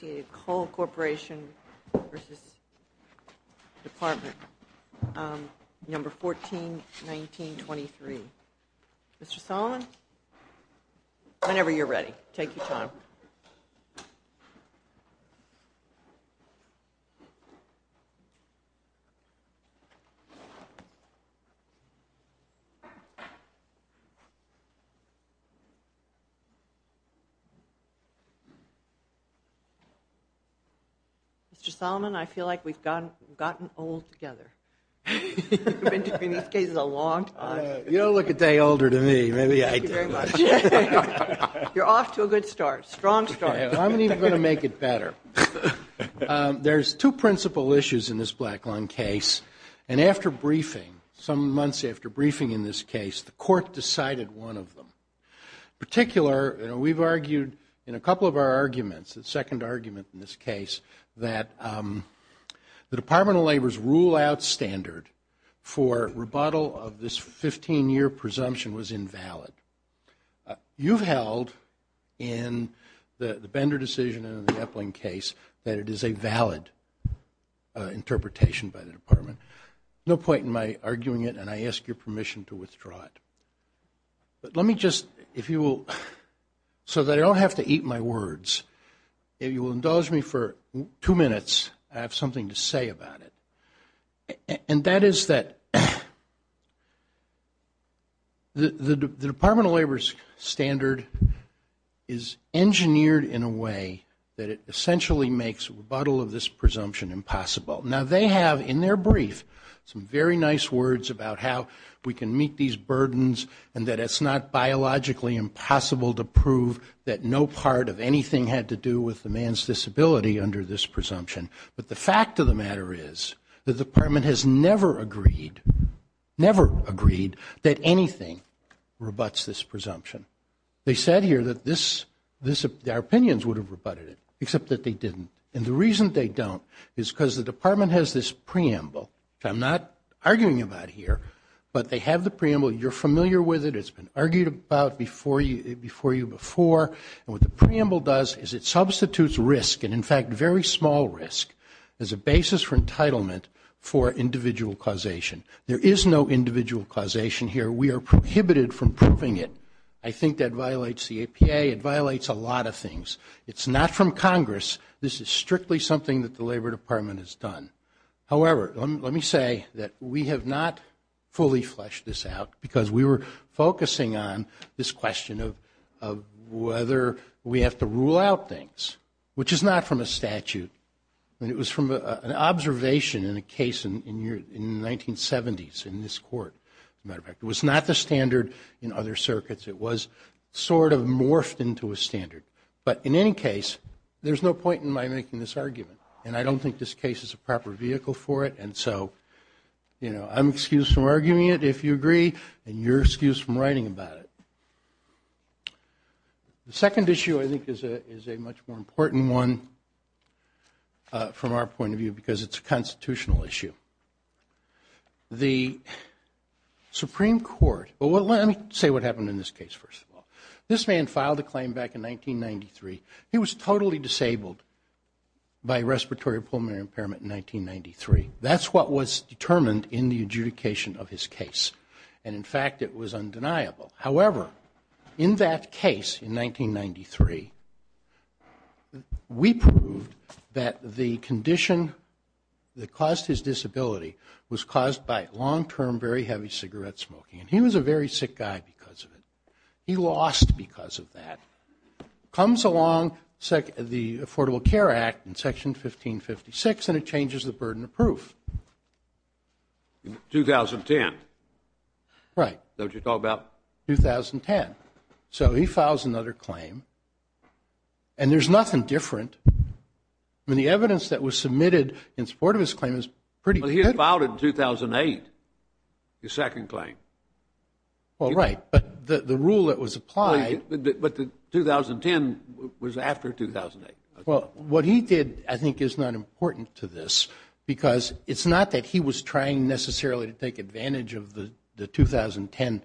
141923. Mr. Solomon, whenever you're ready, take your time. Mr. Solomon, I feel like we've gotten old together. You've been doing these cases a long time. You don't look a day older than me. You're off to a good start, a strong start. I'm going to make it better. There's two principal issues in this black lung case. And after briefing, some months after briefing in this case, the court decided one of them. In particular, we've argued in a couple of our arguments, the second argument in this case, that the Department of Labor's rule-out standard for rebuttal of this 15-year presumption was invalid. You've held in the Bender decision and in the Epling case that it is a valid interpretation by the department. No point in my arguing it, and I ask your permission to withdraw it. But let me just, if you will, so that I don't have to eat my words, if you will indulge me for two minutes, I have something to say about it. And that is that the Department of Labor's standard is engineered in a way that it essentially makes rebuttal of this presumption impossible. Now, they have in their brief some very nice words about how we can meet these burdens and that it's not biologically impossible to prove that no part of anything had to do with the man's disability under this presumption. But the fact of the matter is the department has never agreed, never agreed, that anything rebutts this presumption. They said here that our opinions would have rebutted it, except that they didn't. And the reason they don't is because the department has this preamble, which I'm not arguing about here, but they have the preamble. You're familiar with it. It's been argued about before you before. And what the preamble does is it substitutes risk, and in fact very small risk, as a basis for entitlement for individual causation. There is no individual causation here. We are prohibited from proving it. I think that violates the APA. It violates a lot of things. It's not from Congress. This is strictly something that the Labor Department has done. However, let me say that we have not fully fleshed this out, because we were focusing on this question of whether we have to rule out things, which is not from a statute. It was from an observation in a case in the 1970s in this court. As a matter of fact, it was not the standard in other circuits. It was sort of morphed into a standard. But in any case, there's no point in my making this argument, and I don't think this case is a proper vehicle for it. And so, you know, I'm excused from arguing it, if you agree, and you're excused from writing about it. The second issue, I think, is a much more important one from our point of view, because it's a constitutional issue. The Supreme Court, well, let me say what happened in this case, first of all. This man filed a claim back in 1993. He was totally disabled by respiratory pulmonary impairment in 1993. That's what was determined in the adjudication of his case. And, in fact, it was undeniable. However, in that case in 1993, we proved that the condition that caused his disability was caused by long-term, very heavy cigarette smoking. And he was a very sick guy because of it. He lost because of that. Comes along the Affordable Care Act in Section 1556, and it changes the burden of proof. In 2010? Right. Is that what you're talking about? 2010. So he files another claim, and there's nothing different. I mean, the evidence that was submitted in support of his claim is pretty good. But he had filed it in 2008, his second claim. Well, right, but the rule that was applied. But the 2010 was after 2008. Well, what he did, I think, is not important to this because it's not that he was trying necessarily to take advantage of the 2010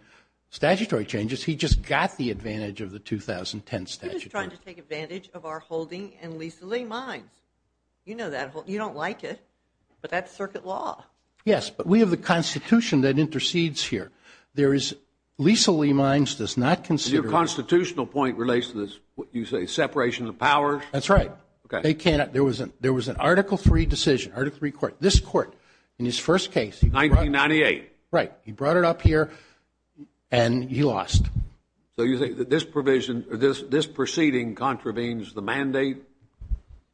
statutory changes. He just got the advantage of the 2010 statutory. He was trying to take advantage of our holding and Lisa Lee Mines. You know that. You don't like it, but that's circuit law. Yes, but we have the Constitution that intercedes here. Lisa Lee Mines does not consider it. Your constitutional point relates to this, what you say, separation of powers? That's right. There was an Article III decision, Article III court. This court, in his first case. 1998. Right. He brought it up here, and he lost. So you think that this proceeding contravenes the mandate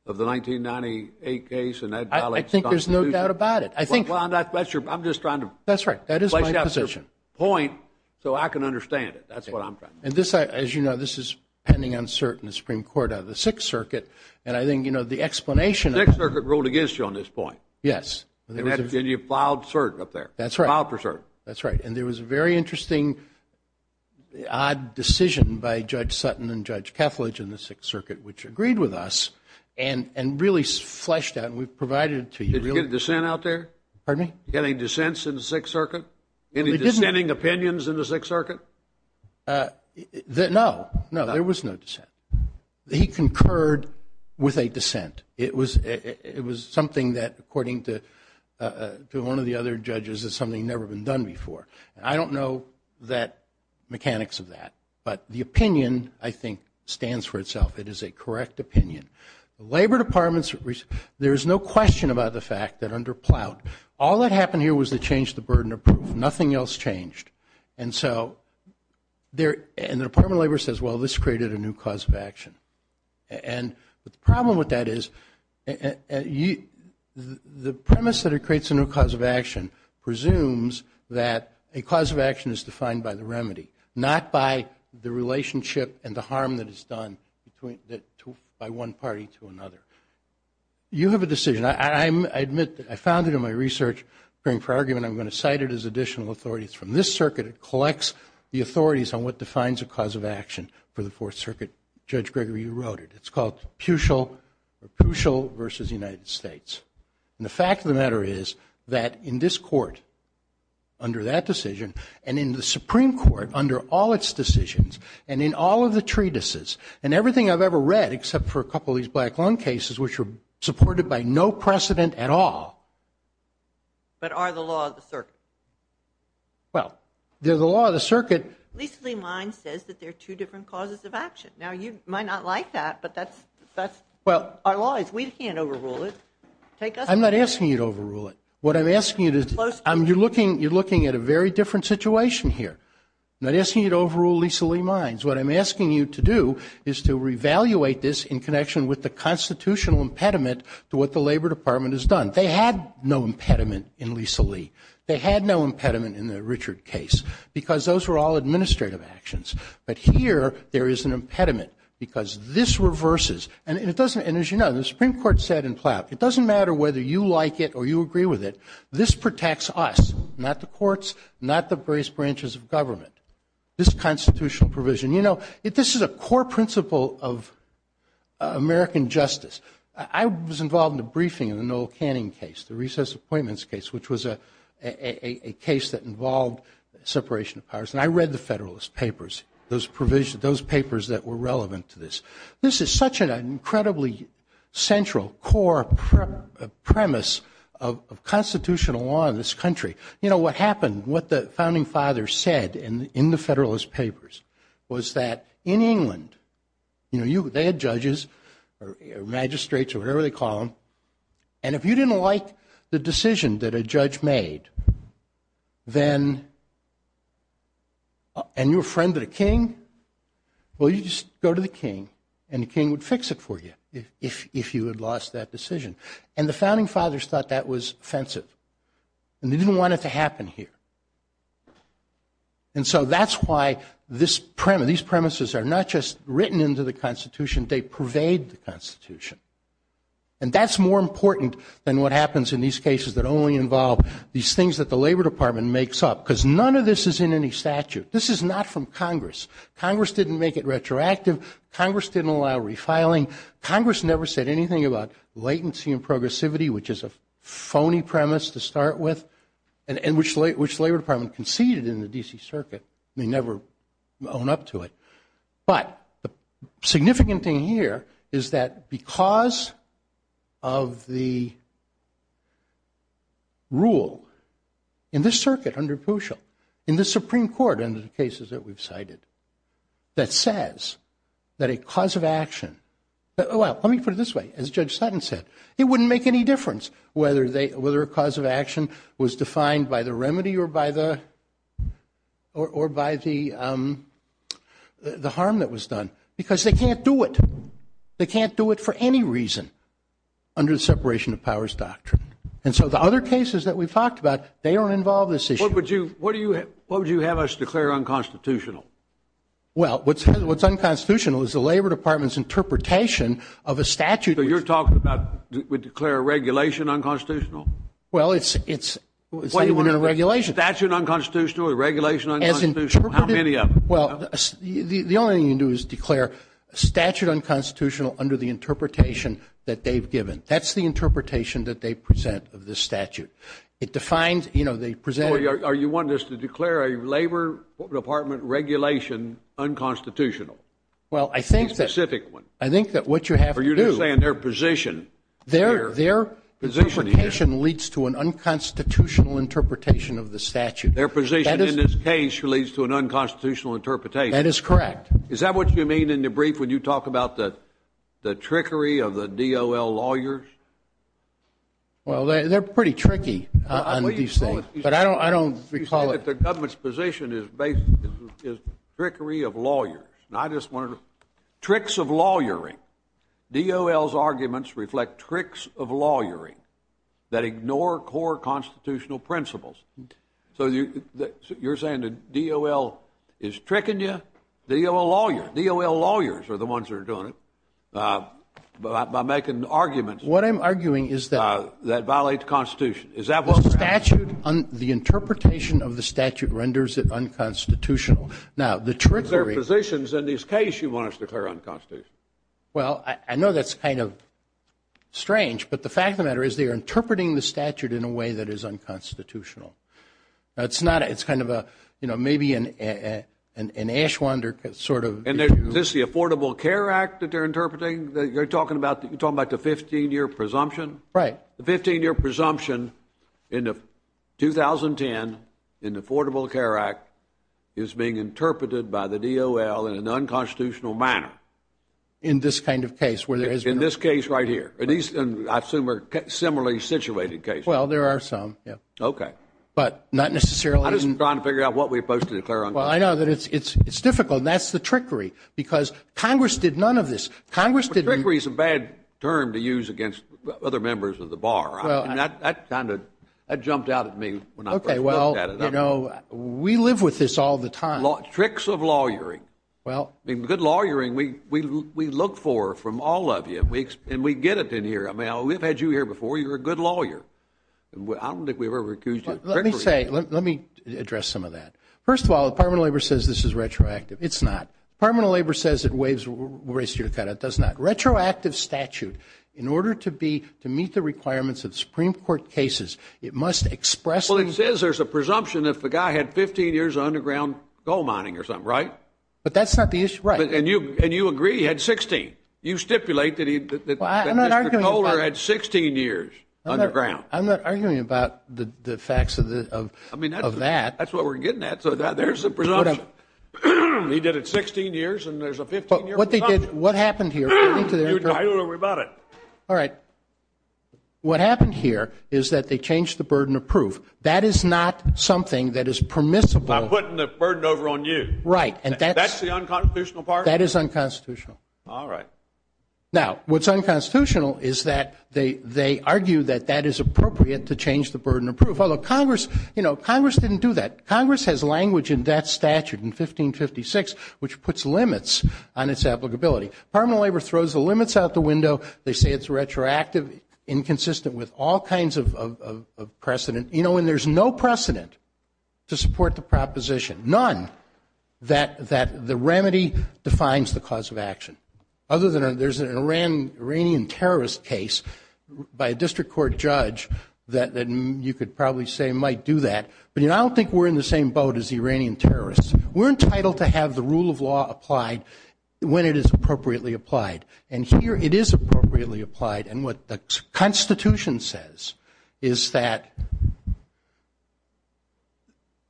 of the 1998 case? I think there's no doubt about it. I'm just trying to place it at your point so I can understand it. That's what I'm trying to do. As you know, this is pending on cert in the Supreme Court out of the Sixth Circuit, and I think the explanation of it. The Sixth Circuit ruled against you on this point. Yes. And you filed cert up there. That's right. Filed for cert. That's right. And there was a very interesting, odd decision by Judge Sutton and Judge Kethledge in the Sixth Circuit, which agreed with us and really fleshed out, and we've provided it to you. Did you get a dissent out there? Pardon me? Did you get any dissents in the Sixth Circuit? Any dissenting opinions in the Sixth Circuit? No. No, there was no dissent. He concurred with a dissent. It was something that, according to one of the other judges, is something that's never been done before. I don't know the mechanics of that, but the opinion, I think, stands for itself. It is a correct opinion. The Labor Department, there is no question about the fact that under Ploutt, all that happened here was to change the burden of proof. Nothing else changed. And so the Department of Labor says, well, this created a new cause of action. And the problem with that is the premise that it creates a new cause of action presumes that a cause of action is defined by the remedy, not by the relationship and the harm that is done by one party to another. You have a decision. I admit that I found it in my research. For argument, I'm going to cite it as additional authority. It's from this circuit. It collects the authorities on what defines a cause of action for the Fourth Circuit. Judge Gregory, you wrote it. It's called Puchel versus the United States. And the fact of the matter is that in this court, under that decision, and in the Supreme Court, under all its decisions, and in all of the treatises and everything I've ever read, except for a couple of these Black Lung cases, which were supported by no precedent at all. But are the law of the circuit? Well, the law of the circuit. Lisa Lien says that there are two different causes of action. Now, you might not like that, but our law is we can't overrule it. I'm not asking you to overrule it. You're looking at a very different situation here. I'm not asking you to overrule Lisa Lien's. What I'm asking you to do is to re-evaluate this in connection with the constitutional impediment to what the Labor Department has done. They had no impediment in Lisa Lien. They had no impediment in the Richard case, because those were all administrative actions. But here, there is an impediment, because this reverses. And, as you know, the Supreme Court said in Plow, it doesn't matter whether you like it or you agree with it. This protects us, not the courts, not the various branches of government. This constitutional provision. You know, this is a core principle of American justice. I was involved in the briefing of the Noel Canning case, the recess appointments case, which was a case that involved separation of powers. And I read the Federalist Papers, those papers that were relevant to this. This is such an incredibly central, core premise of constitutional law in this country. You know, what happened, what the Founding Fathers said in the Federalist Papers was that in England, you know, they had judges or magistrates or whatever they call them, and if you didn't like the decision that a judge made, then, and you're a friend of the king, well, you just go to the king, and the king would fix it for you if you had lost that decision. And the Founding Fathers thought that was offensive, and they didn't want it to happen here. And so that's why these premises are not just written into the Constitution, they pervade the Constitution. And that's more important than what happens in these cases that only involve these things that the Labor Department makes up, because none of this is in any statute. This is not from Congress. Congress didn't make it retroactive. Congress didn't allow refiling. Congress never said anything about latency and progressivity, which is a phony premise to start with, and which the Labor Department conceded in the D.C. Circuit. They never own up to it. But the significant thing here is that because of the rule in this circuit under Puschel, in the Supreme Court, in the cases that we've cited, that says that a cause of action, well, let me put it this way, as Judge Sutton said, it wouldn't make any difference whether a cause of action was defined by the or by the harm that was done, because they can't do it. They can't do it for any reason under the separation of powers doctrine. And so the other cases that we've talked about, they don't involve this issue. What would you have us declare unconstitutional? Well, what's unconstitutional is the Labor Department's interpretation of a statute. So you're talking about we declare a regulation unconstitutional? Well, it's even in a regulation. A statute unconstitutional? A regulation unconstitutional? How many of them? Well, the only thing you can do is declare a statute unconstitutional under the interpretation that they've given. That's the interpretation that they present of this statute. It defines, you know, they present it. Or you want us to declare a Labor Department regulation unconstitutional? Well, I think that what you have to do. Or you're just saying their position. Their interpretation leads to an unconstitutional interpretation of the statute. Their position in this case leads to an unconstitutional interpretation. That is correct. Is that what you mean in the brief when you talk about the trickery of the DOL lawyers? Well, they're pretty tricky on these things, but I don't recall it. You say that the government's position is trickery of lawyers. Tricks of lawyering. DOL's arguments reflect tricks of lawyering that ignore core constitutional principles. So you're saying the DOL is tricking you? DOL lawyers are the ones that are doing it by making arguments that violate the Constitution. The interpretation of the statute renders it unconstitutional. Is there positions in this case you want us to declare unconstitutional? Well, I know that's kind of strange, but the fact of the matter is they are interpreting the statute in a way that is unconstitutional. It's kind of a, you know, maybe an Ashwander sort of view. Is this the Affordable Care Act that they're interpreting? You're talking about the 15-year presumption? Right. The 15-year presumption in 2010, in the Affordable Care Act, is being interpreted by the DOL in an unconstitutional manner. In this kind of case? In this case right here. I assume they're similarly situated cases. Well, there are some. Okay. But not necessarily. I'm just trying to figure out what we're supposed to declare unconstitutional. Well, I know that it's difficult, and that's the trickery. Because Congress did none of this. Trickery is a bad term to use against other members of the bar. That jumped out at me when I first looked at it. Okay, well, you know, we live with this all the time. Tricks of lawyering. Good lawyering, we look for from all of you, and we get it in here. I mean, we've had you here before. You're a good lawyer. I don't think we've ever accused you of trickery. Let me say, let me address some of that. First of all, the Department of Labor says this is retroactive. It's not. The Department of Labor says it wastes your credit. It does not. Retroactive statute, in order to meet the requirements of Supreme Court cases, it must expressly. Well, it says there's a presumption if the guy had 15 years of underground coal mining or something, right? But that's not the issue. Right. And you agree he had 16. You stipulate that Mr. Kohler had 16 years underground. I'm not arguing about the facts of that. That's what we're getting at. So there's the presumption. He did it 16 years, and there's a 15-year presumption. But what they did, what happened here. I don't know about it. All right. What happened here is that they changed the burden of proof. That is not something that is permissible. I'm putting the burden over on you. Right. That's the unconstitutional part? That is unconstitutional. All right. Now, what's unconstitutional is that they argue that that is appropriate to change the burden of proof. Although Congress, you know, Congress didn't do that. Congress has language in that statute in 1556 which puts limits on its applicability. Permanent labor throws the limits out the window. They say it's retroactive, inconsistent with all kinds of precedent. You know, and there's no precedent to support the proposition, none, that the remedy defines the cause of action. Other than there's an Iranian terrorist case by a district court judge that you could probably say might do that. But, you know, I don't think we're in the same boat as the Iranian terrorists. We're entitled to have the rule of law applied when it is appropriately applied. And here it is appropriately applied. And what the Constitution says is that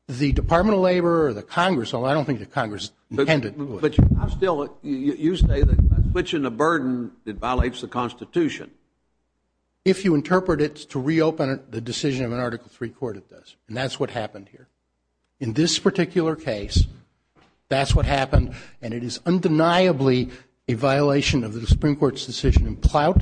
the Department of Labor or the Congress, although I don't think the Congress intended to do it. But I'm still, you say that switching the burden violates the Constitution. If you interpret it to reopen the decision of an Article III court, it does. And that's what happened here. In this particular case, that's what happened. And it is undeniably a violation of the Supreme Court's decision in Plout.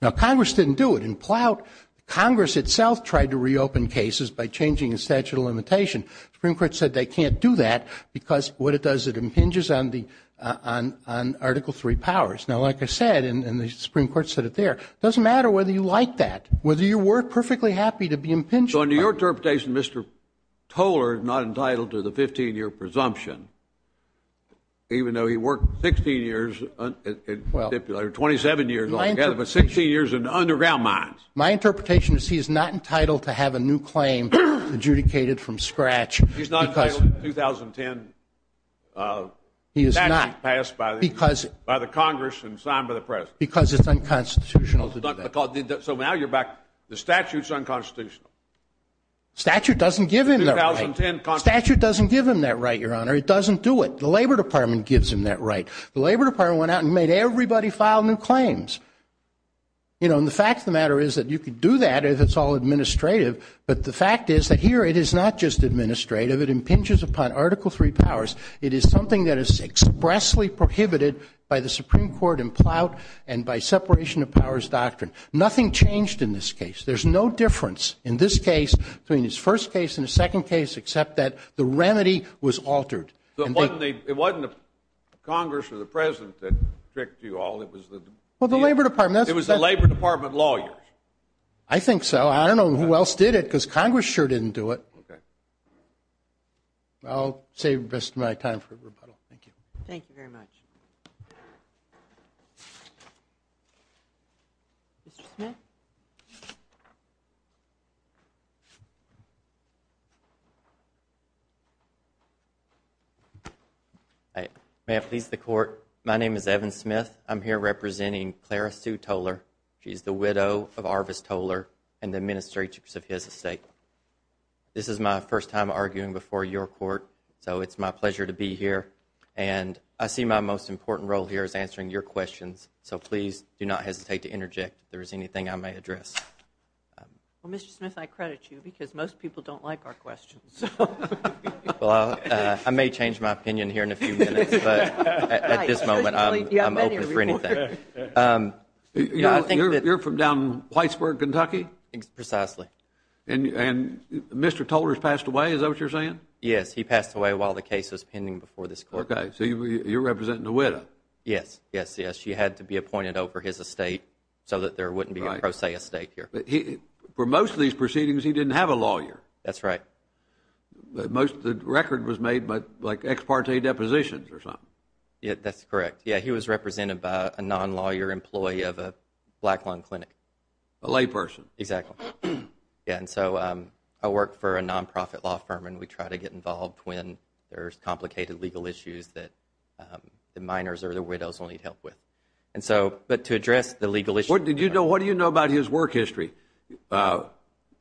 Now, Congress didn't do it. In Plout, Congress itself tried to reopen cases by changing the statute of limitation. The Supreme Court said they can't do that because what it does, it impinges on Article III powers. Now, like I said, and the Supreme Court said it there, it doesn't matter whether you like that, whether you were perfectly happy to be impinged on. So in your interpretation, Mr. Toler is not entitled to the 15-year presumption, even though he worked 16 years, or 27 years altogether, but 16 years in underground mines. My interpretation is he is not entitled to have a new claim adjudicated from scratch. He's not entitled to a 2010 statute passed by the Congress and signed by the press. Because it's unconstitutional to do that. So now you're back to the statute's unconstitutional. Statute doesn't give him that right. Statute doesn't give him that right, Your Honor. It doesn't do it. The Labor Department gives him that right. The Labor Department went out and made everybody file new claims. And the fact of the matter is that you can do that if it's all administrative, but the fact is that here it is not just administrative. It impinges upon Article III powers. It is something that is expressly prohibited by the Supreme Court in Plout and by separation of powers doctrine. Nothing changed in this case. There's no difference in this case between his first case and his second case, except that the remedy was altered. It wasn't Congress or the President that tricked you all. It was the Labor Department. It was the Labor Department lawyers. I think so. I don't know who else did it, because Congress sure didn't do it. Okay. I'll save the rest of my time for rebuttal. Thank you. Thank you very much. Mr. Smith? May it please the Court, my name is Evan Smith. I'm here representing Clara Sue Toler. She's the widow of Arvis Toler and the administrators of his estate. This is my first time arguing before your court, so it's my pleasure to be here. And I see my most important role here is answering your questions, so please do not hesitate to interject if there is anything I may address. Well, Mr. Smith, I credit you, because most people don't like our questions. Well, I may change my opinion here in a few minutes, but at this moment I'm open for anything. You're from down in Plymouth, Kentucky? Precisely. And Mr. Toler has passed away, is that what you're saying? Yes, he passed away while the case was pending before this court. Okay. So you're representing the widow? Yes, yes, yes. She had to be appointed over his estate so that there wouldn't be a pro se estate here. But for most of these proceedings he didn't have a lawyer. That's right. Most of the record was made by, like, ex parte depositions or something. That's correct. Yeah, he was represented by a non-lawyer employee of a black lung clinic. A layperson. Exactly. And so I work for a non-profit law firm, and we try to get involved when there's complicated legal issues that the miners or the widows will need help with. But to address the legal issue. What do you know about his work history? Yeah,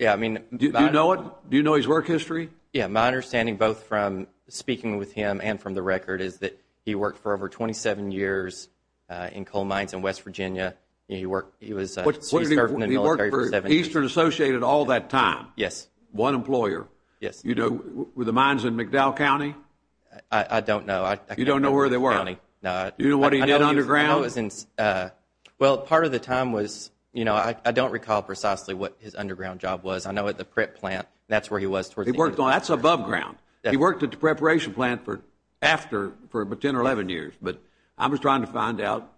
I mean. Do you know his work history? Yeah, my understanding, both from speaking with him and from the record, is that he worked for over 27 years in coal mines in West Virginia. He served in the military for 17 years. He worked for Eastern Associated all that time? Yes. One employer? Yes. Were the mines in McDowell County? I don't know. You don't know where they were? No. Do you know what he did underground? Well, part of the time was, you know, I don't recall precisely what his underground job was. I know at the prep plant, that's where he was. That's above ground. He worked at the preparation plant for 10 or 11 years. But I was trying to find out,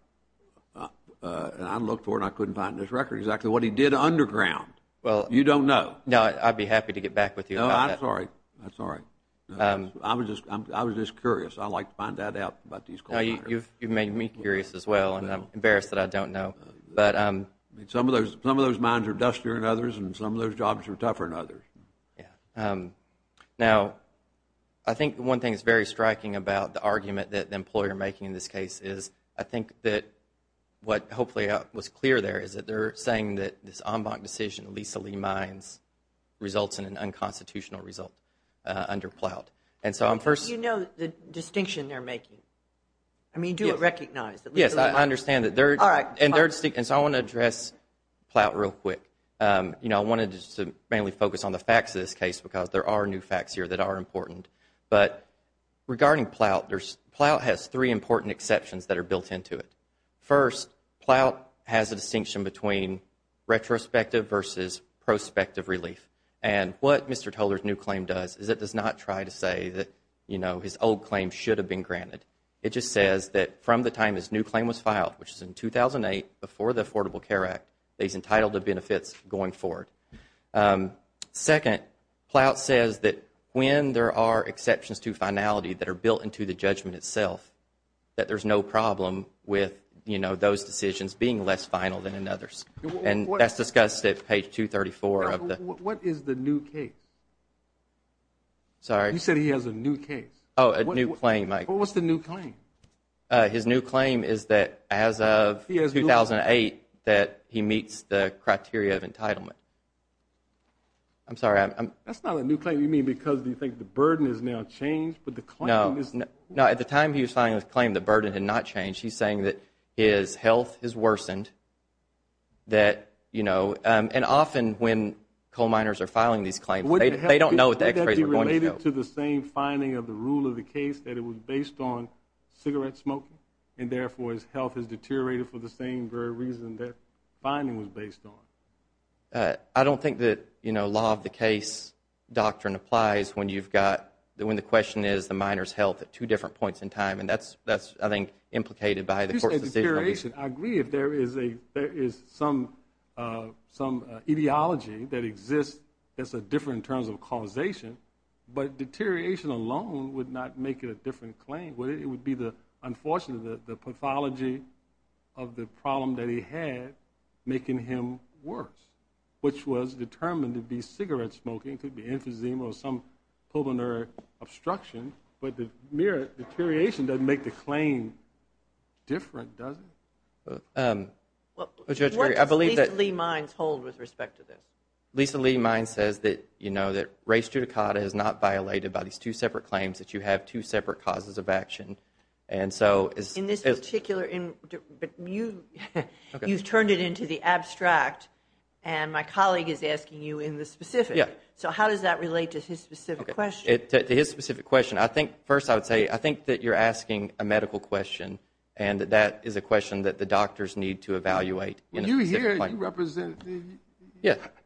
and I looked for it and I couldn't find it in his record, exactly what he did underground. You don't know? No, I'd be happy to get back with you about that. No, I'm sorry. I'm sorry. I was just curious. I'd like to find that out about these coal miners. No, you've made me curious as well, and I'm embarrassed that I don't know. Now, I think one thing that's very striking about the argument that the employer making in this case is, I think that what hopefully was clear there is that they're saying that this en banc decision, Lisa Lee Mines, results in an unconstitutional result under PLOUT. You know the distinction they're making? I mean, do you recognize that Lisa Lee Mines… Yes, I understand that. All right. And so I want to address PLOUT real quick. You know, I wanted to mainly focus on the facts of this case because there are new facts here that are important. But regarding PLOUT, PLOUT has three important exceptions that are built into it. First, PLOUT has a distinction between retrospective versus prospective relief. And what Mr. Toler's new claim does is it does not try to say that, you know, his old claim should have been granted. It just says that from the time his new claim was filed, which is in 2008, before the Affordable Care Act, he's entitled to benefits going forward. Second, PLOUT says that when there are exceptions to finality that are built into the judgment itself, that there's no problem with, you know, those decisions being less final than in others. And that's discussed at page 234 of the… What is the new case? Sorry? You said he has a new case. Oh, a new claim. What's the new claim? His new claim is that as of 2008 that he meets the criteria of entitlement. I'm sorry, I'm… That's not a new claim. You mean because you think the burden has now changed, but the claim is… No. No, at the time he was filing this claim, the burden had not changed. He's saying that his health has worsened, that, you know, and often when coal miners are filing these claims, they don't know what the x-rays are going to show. They don't get to the same finding of the rule of the case that it was based on cigarette smoking and therefore his health has deteriorated for the same very reason that finding was based on. I don't think that, you know, law of the case doctrine applies when you've got, when the question is the miner's health at two different points in time, and that's, I think, implicated by the court's decision. I agree if there is some ideology that exists that's different in terms of causation, but deterioration alone would not make it a different claim. It would be the, unfortunately, the pathology of the problem that he had making him worse, which was determined to be cigarette smoking. It could be emphysema or some pulmonary obstruction, but the mere deterioration doesn't make the claim different, does it? What does Lisa Lee Mines hold with respect to this? Lisa Lee Mines says that, you know, that res judicata is not violated by these two separate claims, that you have two separate causes of action. In this particular, but you've turned it into the abstract, and my colleague is asking you in the specific. So how does that relate to his specific question? To his specific question, I think, first I would say, I think that you're asking a medical question, and that is a question that the doctors need to evaluate. When you hear it, you represent the.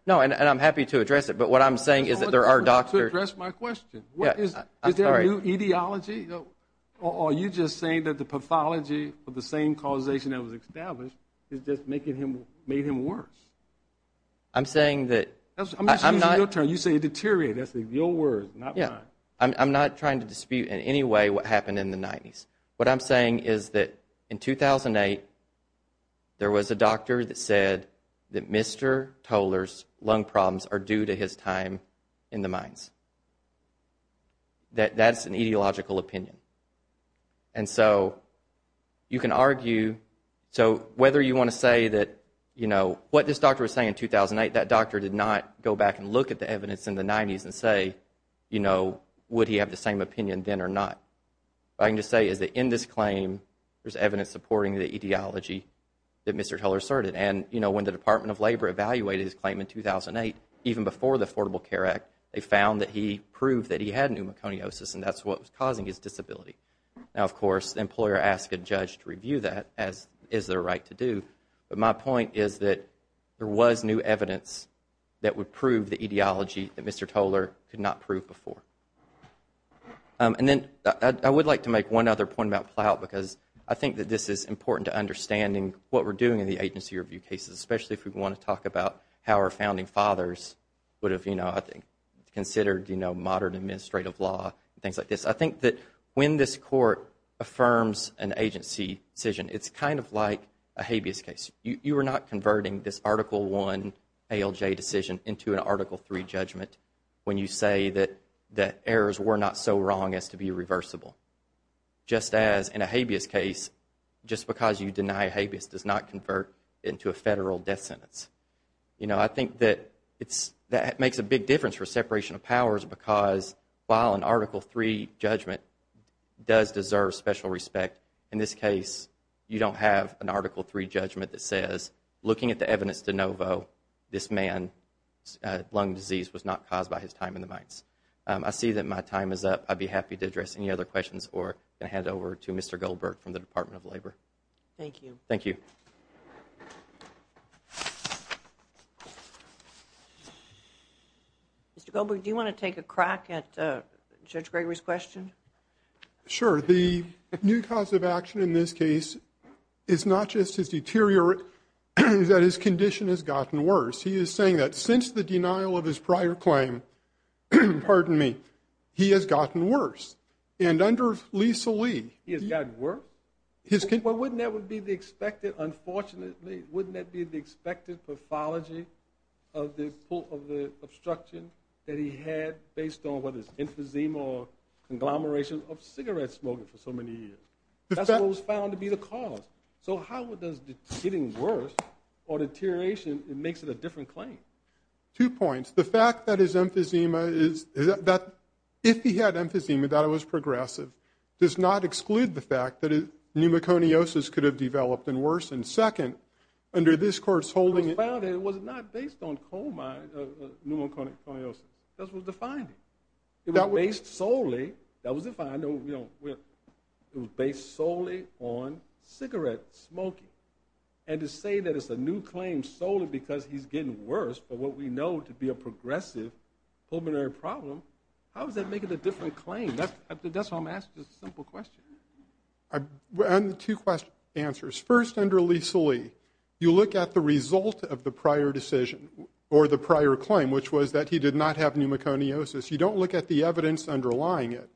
No, and I'm happy to address it, but what I'm saying is that there are doctors. I want to address my question. Is there a new etiology, or are you just saying that the pathology of the same causation that was established is just making him, made him worse? I'm saying that. I'm just using your term. You say deteriorate. That's your word, not mine. I'm not trying to dispute in any way what happened in the 90s. What I'm saying is that in 2008, there was a doctor that said that Mr. Toler's lung problems are due to his time in the mines. That's an etiological opinion. And so you can argue, so whether you want to say that, you know, what this doctor was saying in 2008, that doctor did not go back and look at the evidence in the 90s and say, you know, would he have the same opinion then or not? What I can just say is that in this claim, there's evidence supporting the etiology that Mr. Toler asserted. And, you know, when the Department of Labor evaluated his claim in 2008, even before the Affordable Care Act, they found that he proved that he had pneumoconiosis, and that's what was causing his disability. Now, of course, the employer asked a judge to review that, as is their right to do. But my point is that there was new evidence that would prove the etiology that Mr. Toler could not prove before. And then I would like to make one other point about Plout, because I think that this is important to understanding what we're doing in the agency review cases, especially if we want to talk about how our founding fathers would have, you know, I think, considered, you know, modern administrative law and things like this. I think that when this court affirms an agency decision, it's kind of like a habeas case. You are not converting this Article I ALJ decision into an Article III judgment when you say that errors were not so wrong as to be reversible. Just as in a habeas case, just because you deny habeas does not convert into a federal death sentence. You know, I think that makes a big difference for separation of powers because while an Article III judgment does deserve special respect, in this case, you don't have an Article III judgment that says, looking at the evidence de novo, this man's lung disease was not caused by his time in the mines. I see that my time is up. I'd be happy to address any other questions or hand it over to Mr. Goldberg from the Department of Labor. Thank you. Thank you. Mr. Goldberg, do you want to take a crack at Judge Gregory's question? Sure. The new cause of action in this case is not just his deteriorate, that his condition has gotten worse. He is saying that since the denial of his prior claim, pardon me, he has gotten worse. And under Lisa Lee, he has gotten worse? Well, wouldn't that be the expected, unfortunately, wouldn't that be the expected pathology of the obstruction that he had based on what is emphysema or conglomeration of cigarette smoking for so many years? That's what was found to be the cause. So how does getting worse or deterioration, it makes it a different claim? Two points. The fact that his emphysema is, that if he had emphysema, that it was progressive, does not exclude the fact that pneumoconiosis could have developed and worsened. Second, under this court's holding, It was not based on pneumoconiosis. Pneumoconiosis, that's what defined it. It was based solely, that was defined, it was based solely on cigarette smoking. And to say that it's a new claim solely because he's getting worse, but what we know to be a progressive pulmonary problem, how does that make it a different claim? That's why I'm asking this simple question. I have two answers. First, under Lisa Lee, you look at the result of the prior decision, or the prior claim, which was that he did not have pneumoconiosis. You don't look at the evidence underlying it.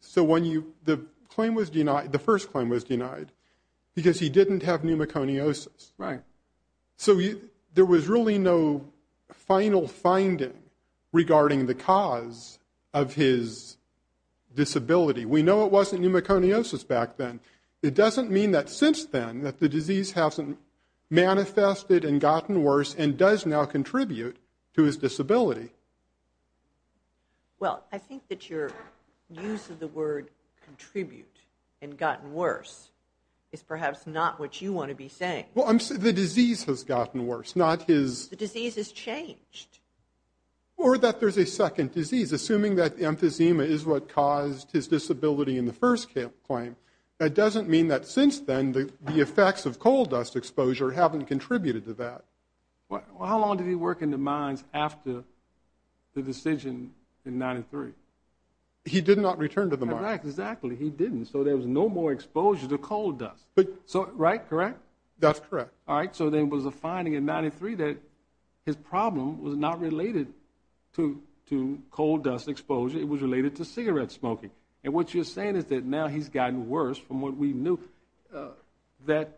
So when the claim was denied, the first claim was denied, because he didn't have pneumoconiosis. So there was really no final finding regarding the cause of his disability. We know it wasn't pneumoconiosis back then. It doesn't mean that since then, that the disease hasn't manifested and gotten worse and does now contribute to his disability. Well, I think that your use of the word contribute and gotten worse is perhaps not what you want to be saying. Well, I'm saying the disease has gotten worse, not his. The disease has changed. Or that there's a second disease. Assuming that emphysema is what caused his disability in the first claim, that doesn't mean that since then, the effects of coal dust exposure haven't contributed to that. Well, how long did he work in the mines after the decision in 93? He did not return to the mines. Exactly. He didn't. So there was no more exposure to coal dust. Right? Correct? That's correct. All right. So there was a finding in 93 that his problem was not related to coal dust exposure. It was related to cigarette smoking. And what you're saying is that now he's gotten worse from what we knew. It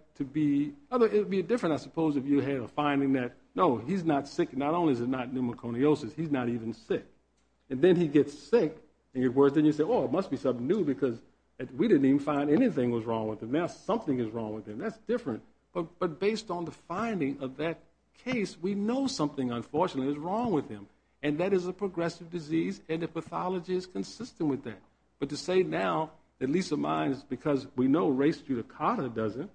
would be different, I suppose, if you had a finding that, no, he's not sick. Not only is it not pneumoconiosis, he's not even sick. And then he gets sick, and you say, well, it must be something new because we didn't even find anything was wrong with him. Now something is wrong with him. That's different. But based on the finding of that case, we know something, unfortunately, is wrong with him. And that is a progressive disease, and the pathology is consistent with that. But to say now, at least of mine, is because we know race to the carter doesn't,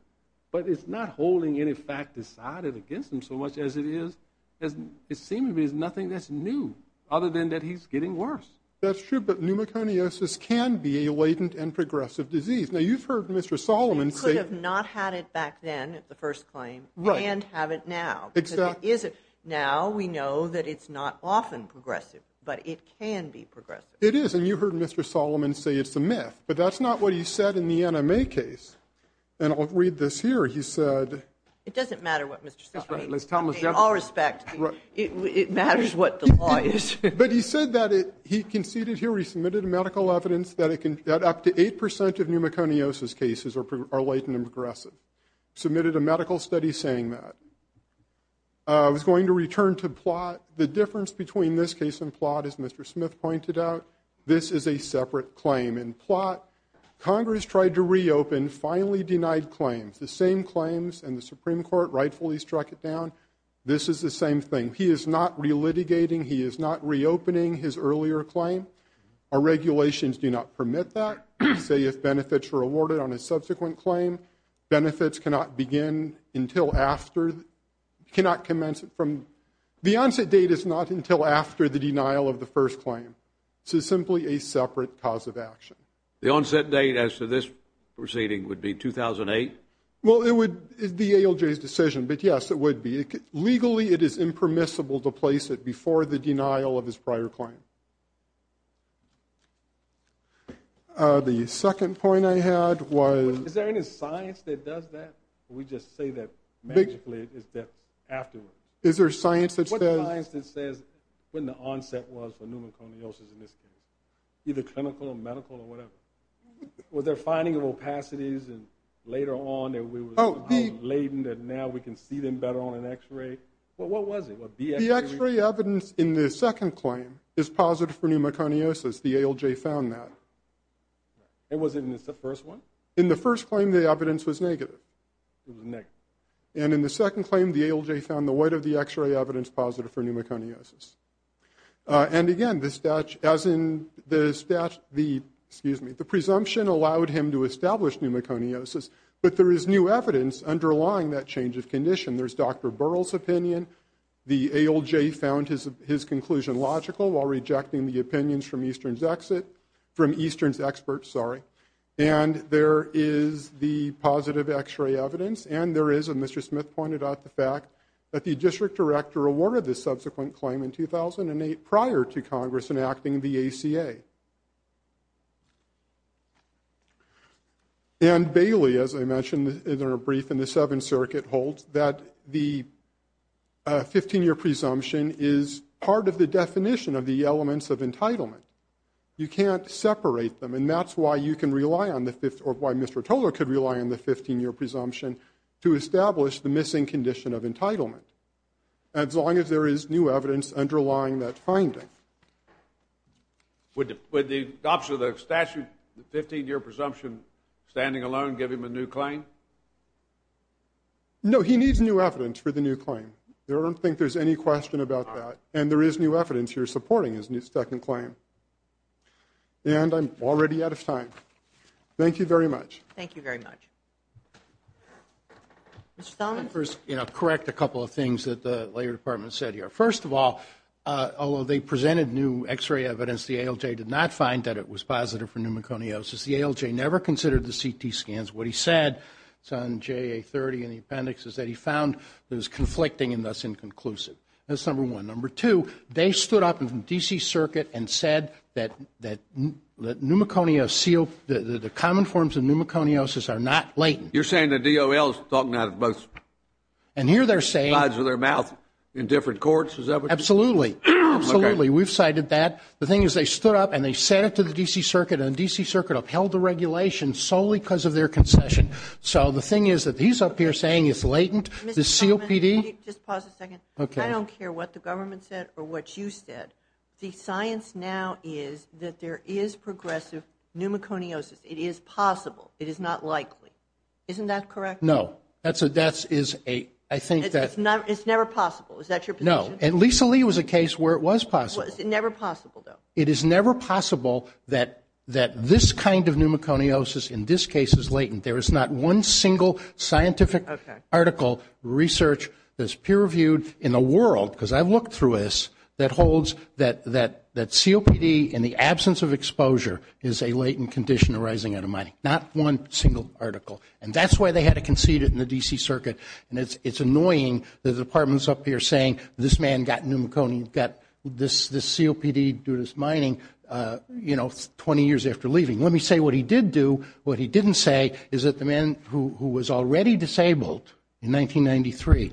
but it's not holding any fact decided against him so much as it is. It seems to me there's nothing that's new other than that he's getting worse. That's true, but pneumoconiosis can be a latent and progressive disease. Now you've heard Mr. Solomon say ---- He could have not had it back then at the first claim and have it now. Exactly. Now we know that it's not often progressive, but it can be progressive. It is, and you heard Mr. Solomon say it's a myth, but that's not what he said in the NMA case. And I'll read this here. He said ---- It doesn't matter what Mr. Solomon said. In all respect, it matters what the law is. But he said that he conceded here, he submitted medical evidence, that up to 8% of pneumoconiosis cases are latent and progressive. Submitted a medical study saying that. I was going to return to plot. The difference between this case and plot, as Mr. Smith pointed out, this is a separate claim. In plot, Congress tried to reopen, finally denied claims. The same claims and the Supreme Court rightfully struck it down. This is the same thing. He is not relitigating, he is not reopening his earlier claim. Our regulations do not permit that. Say if benefits were awarded on a subsequent claim, benefits cannot begin until after, cannot commence from, the onset date is not until after the denial of the first claim. This is simply a separate cause of action. The onset date as to this proceeding would be 2008? Well, it would be ALJ's decision, but yes, it would be. Legally, it is impermissible to place it before the denial of his prior claim. The second point I had was ---- Is there any science that does that? We just say that, magically, it's that afterwards. Is there science that says ---- What science that says when the onset was for pneumoconiosis in this case? Either clinical or medical or whatever. Was there finding of opacities and later on that we were ---- Oh, the ---- Now we can see them better on an x-ray. What was it? The x-ray evidence in the second claim is positive for pneumoconiosis. The ALJ found that. It wasn't in the first one? In the first claim, the evidence was negative. It was negative. And in the second claim, the ALJ found the weight of the x-ray evidence positive for pneumoconiosis. And, again, the presumption allowed him to establish pneumoconiosis, but there is new evidence underlying that change of condition. There's Dr. Burrell's opinion. The ALJ found his conclusion logical while rejecting the opinions from Eastern's experts. And there is the positive x-ray evidence, and there is, as Mr. Smith pointed out, the fact that the district director awarded the subsequent claim in 2008 prior to Congress enacting the ACA. And Bailey, as I mentioned in her brief in the Seventh Circuit, holds that the 15-year presumption is part of the definition of the elements of entitlement. You can't separate them, and that's why you can rely on the — or why Mr. Tolar could rely on the 15-year presumption to establish the missing condition of entitlement, as long as there is new evidence underlying that finding. Would the statute, the 15-year presumption, standing alone give him a new claim? No, he needs new evidence for the new claim. I don't think there's any question about that. And there is new evidence here supporting his new second claim. And I'm already out of time. Thank you very much. Thank you very much. Mr. Thelman? First, I'll correct a couple of things that the Labor Department said here. First of all, although they presented new x-ray evidence, the ALJ did not find that it was positive for pneumoconiosis. The ALJ never considered the CT scans. What he said, it's on JA30 in the appendix, is that he found it was conflicting and thus inconclusive. That's number one. Number two, they stood up in the D.C. Circuit and said that pneumoconiosis, the common forms of pneumoconiosis are not latent. You're saying the DOL is talking out of both sides of their mouth in different courts? Absolutely. Absolutely. We've cited that. The thing is they stood up and they said it to the D.C. Circuit, and the D.C. Circuit upheld the regulation solely because of their concession. So the thing is that he's up here saying it's latent. Just pause a second. I don't care what the government said or what you said. The science now is that there is progressive pneumoconiosis. It is possible. It is not likely. Isn't that correct? No. It's never possible. Is that your position? No. And Lisa Lee was a case where it was possible. It's never possible, though. It is never possible that this kind of pneumoconiosis in this case is latent. There is not one single scientific article, research that's peer-reviewed in the world, because I've looked through this, that holds that COPD in the absence of exposure is a latent condition arising out of mining. Not one single article. And that's why they had to concede it in the D.C. Circuit. And it's annoying that the Department's up here saying this man got pneumoconiosis, got this COPD due to his mining, you know, 20 years after leaving. Let me say what he did do. What he didn't say is that the man who was already disabled in 1993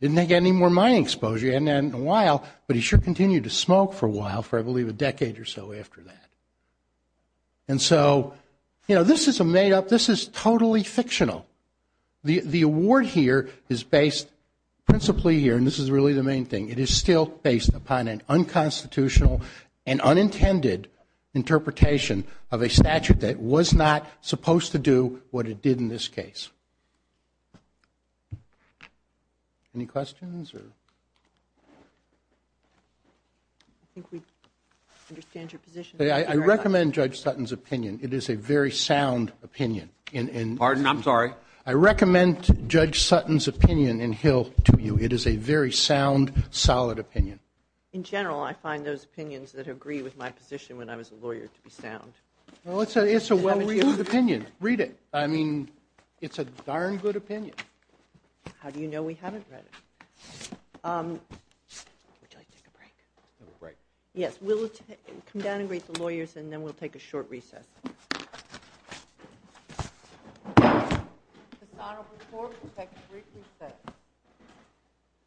didn't get any more mining exposure. He hadn't had it in a while, but he sure continued to smoke for a while, for I believe a decade or so after that. And so, you know, this is a made-up, this is totally fictional. The award here is based principally here, and this is really the main thing, it is still based upon an unconstitutional and unintended interpretation of a statute that was not supposed to do what it did in this case. Any questions? I think we understand your position. I recommend Judge Sutton's opinion. It is a very sound opinion. Pardon? I'm sorry? I recommend Judge Sutton's opinion in Hill to you. It is a very sound, solid opinion. In general, I find those opinions that agree with my position when I was a lawyer to be sound. Well, it's a well-read opinion. Read it. I mean, it's a darn good opinion. How do you know we haven't read it? Would you like to take a break? Yes, we'll come down and greet the lawyers, and then we'll take a short recess. This honorable court will take a brief recess.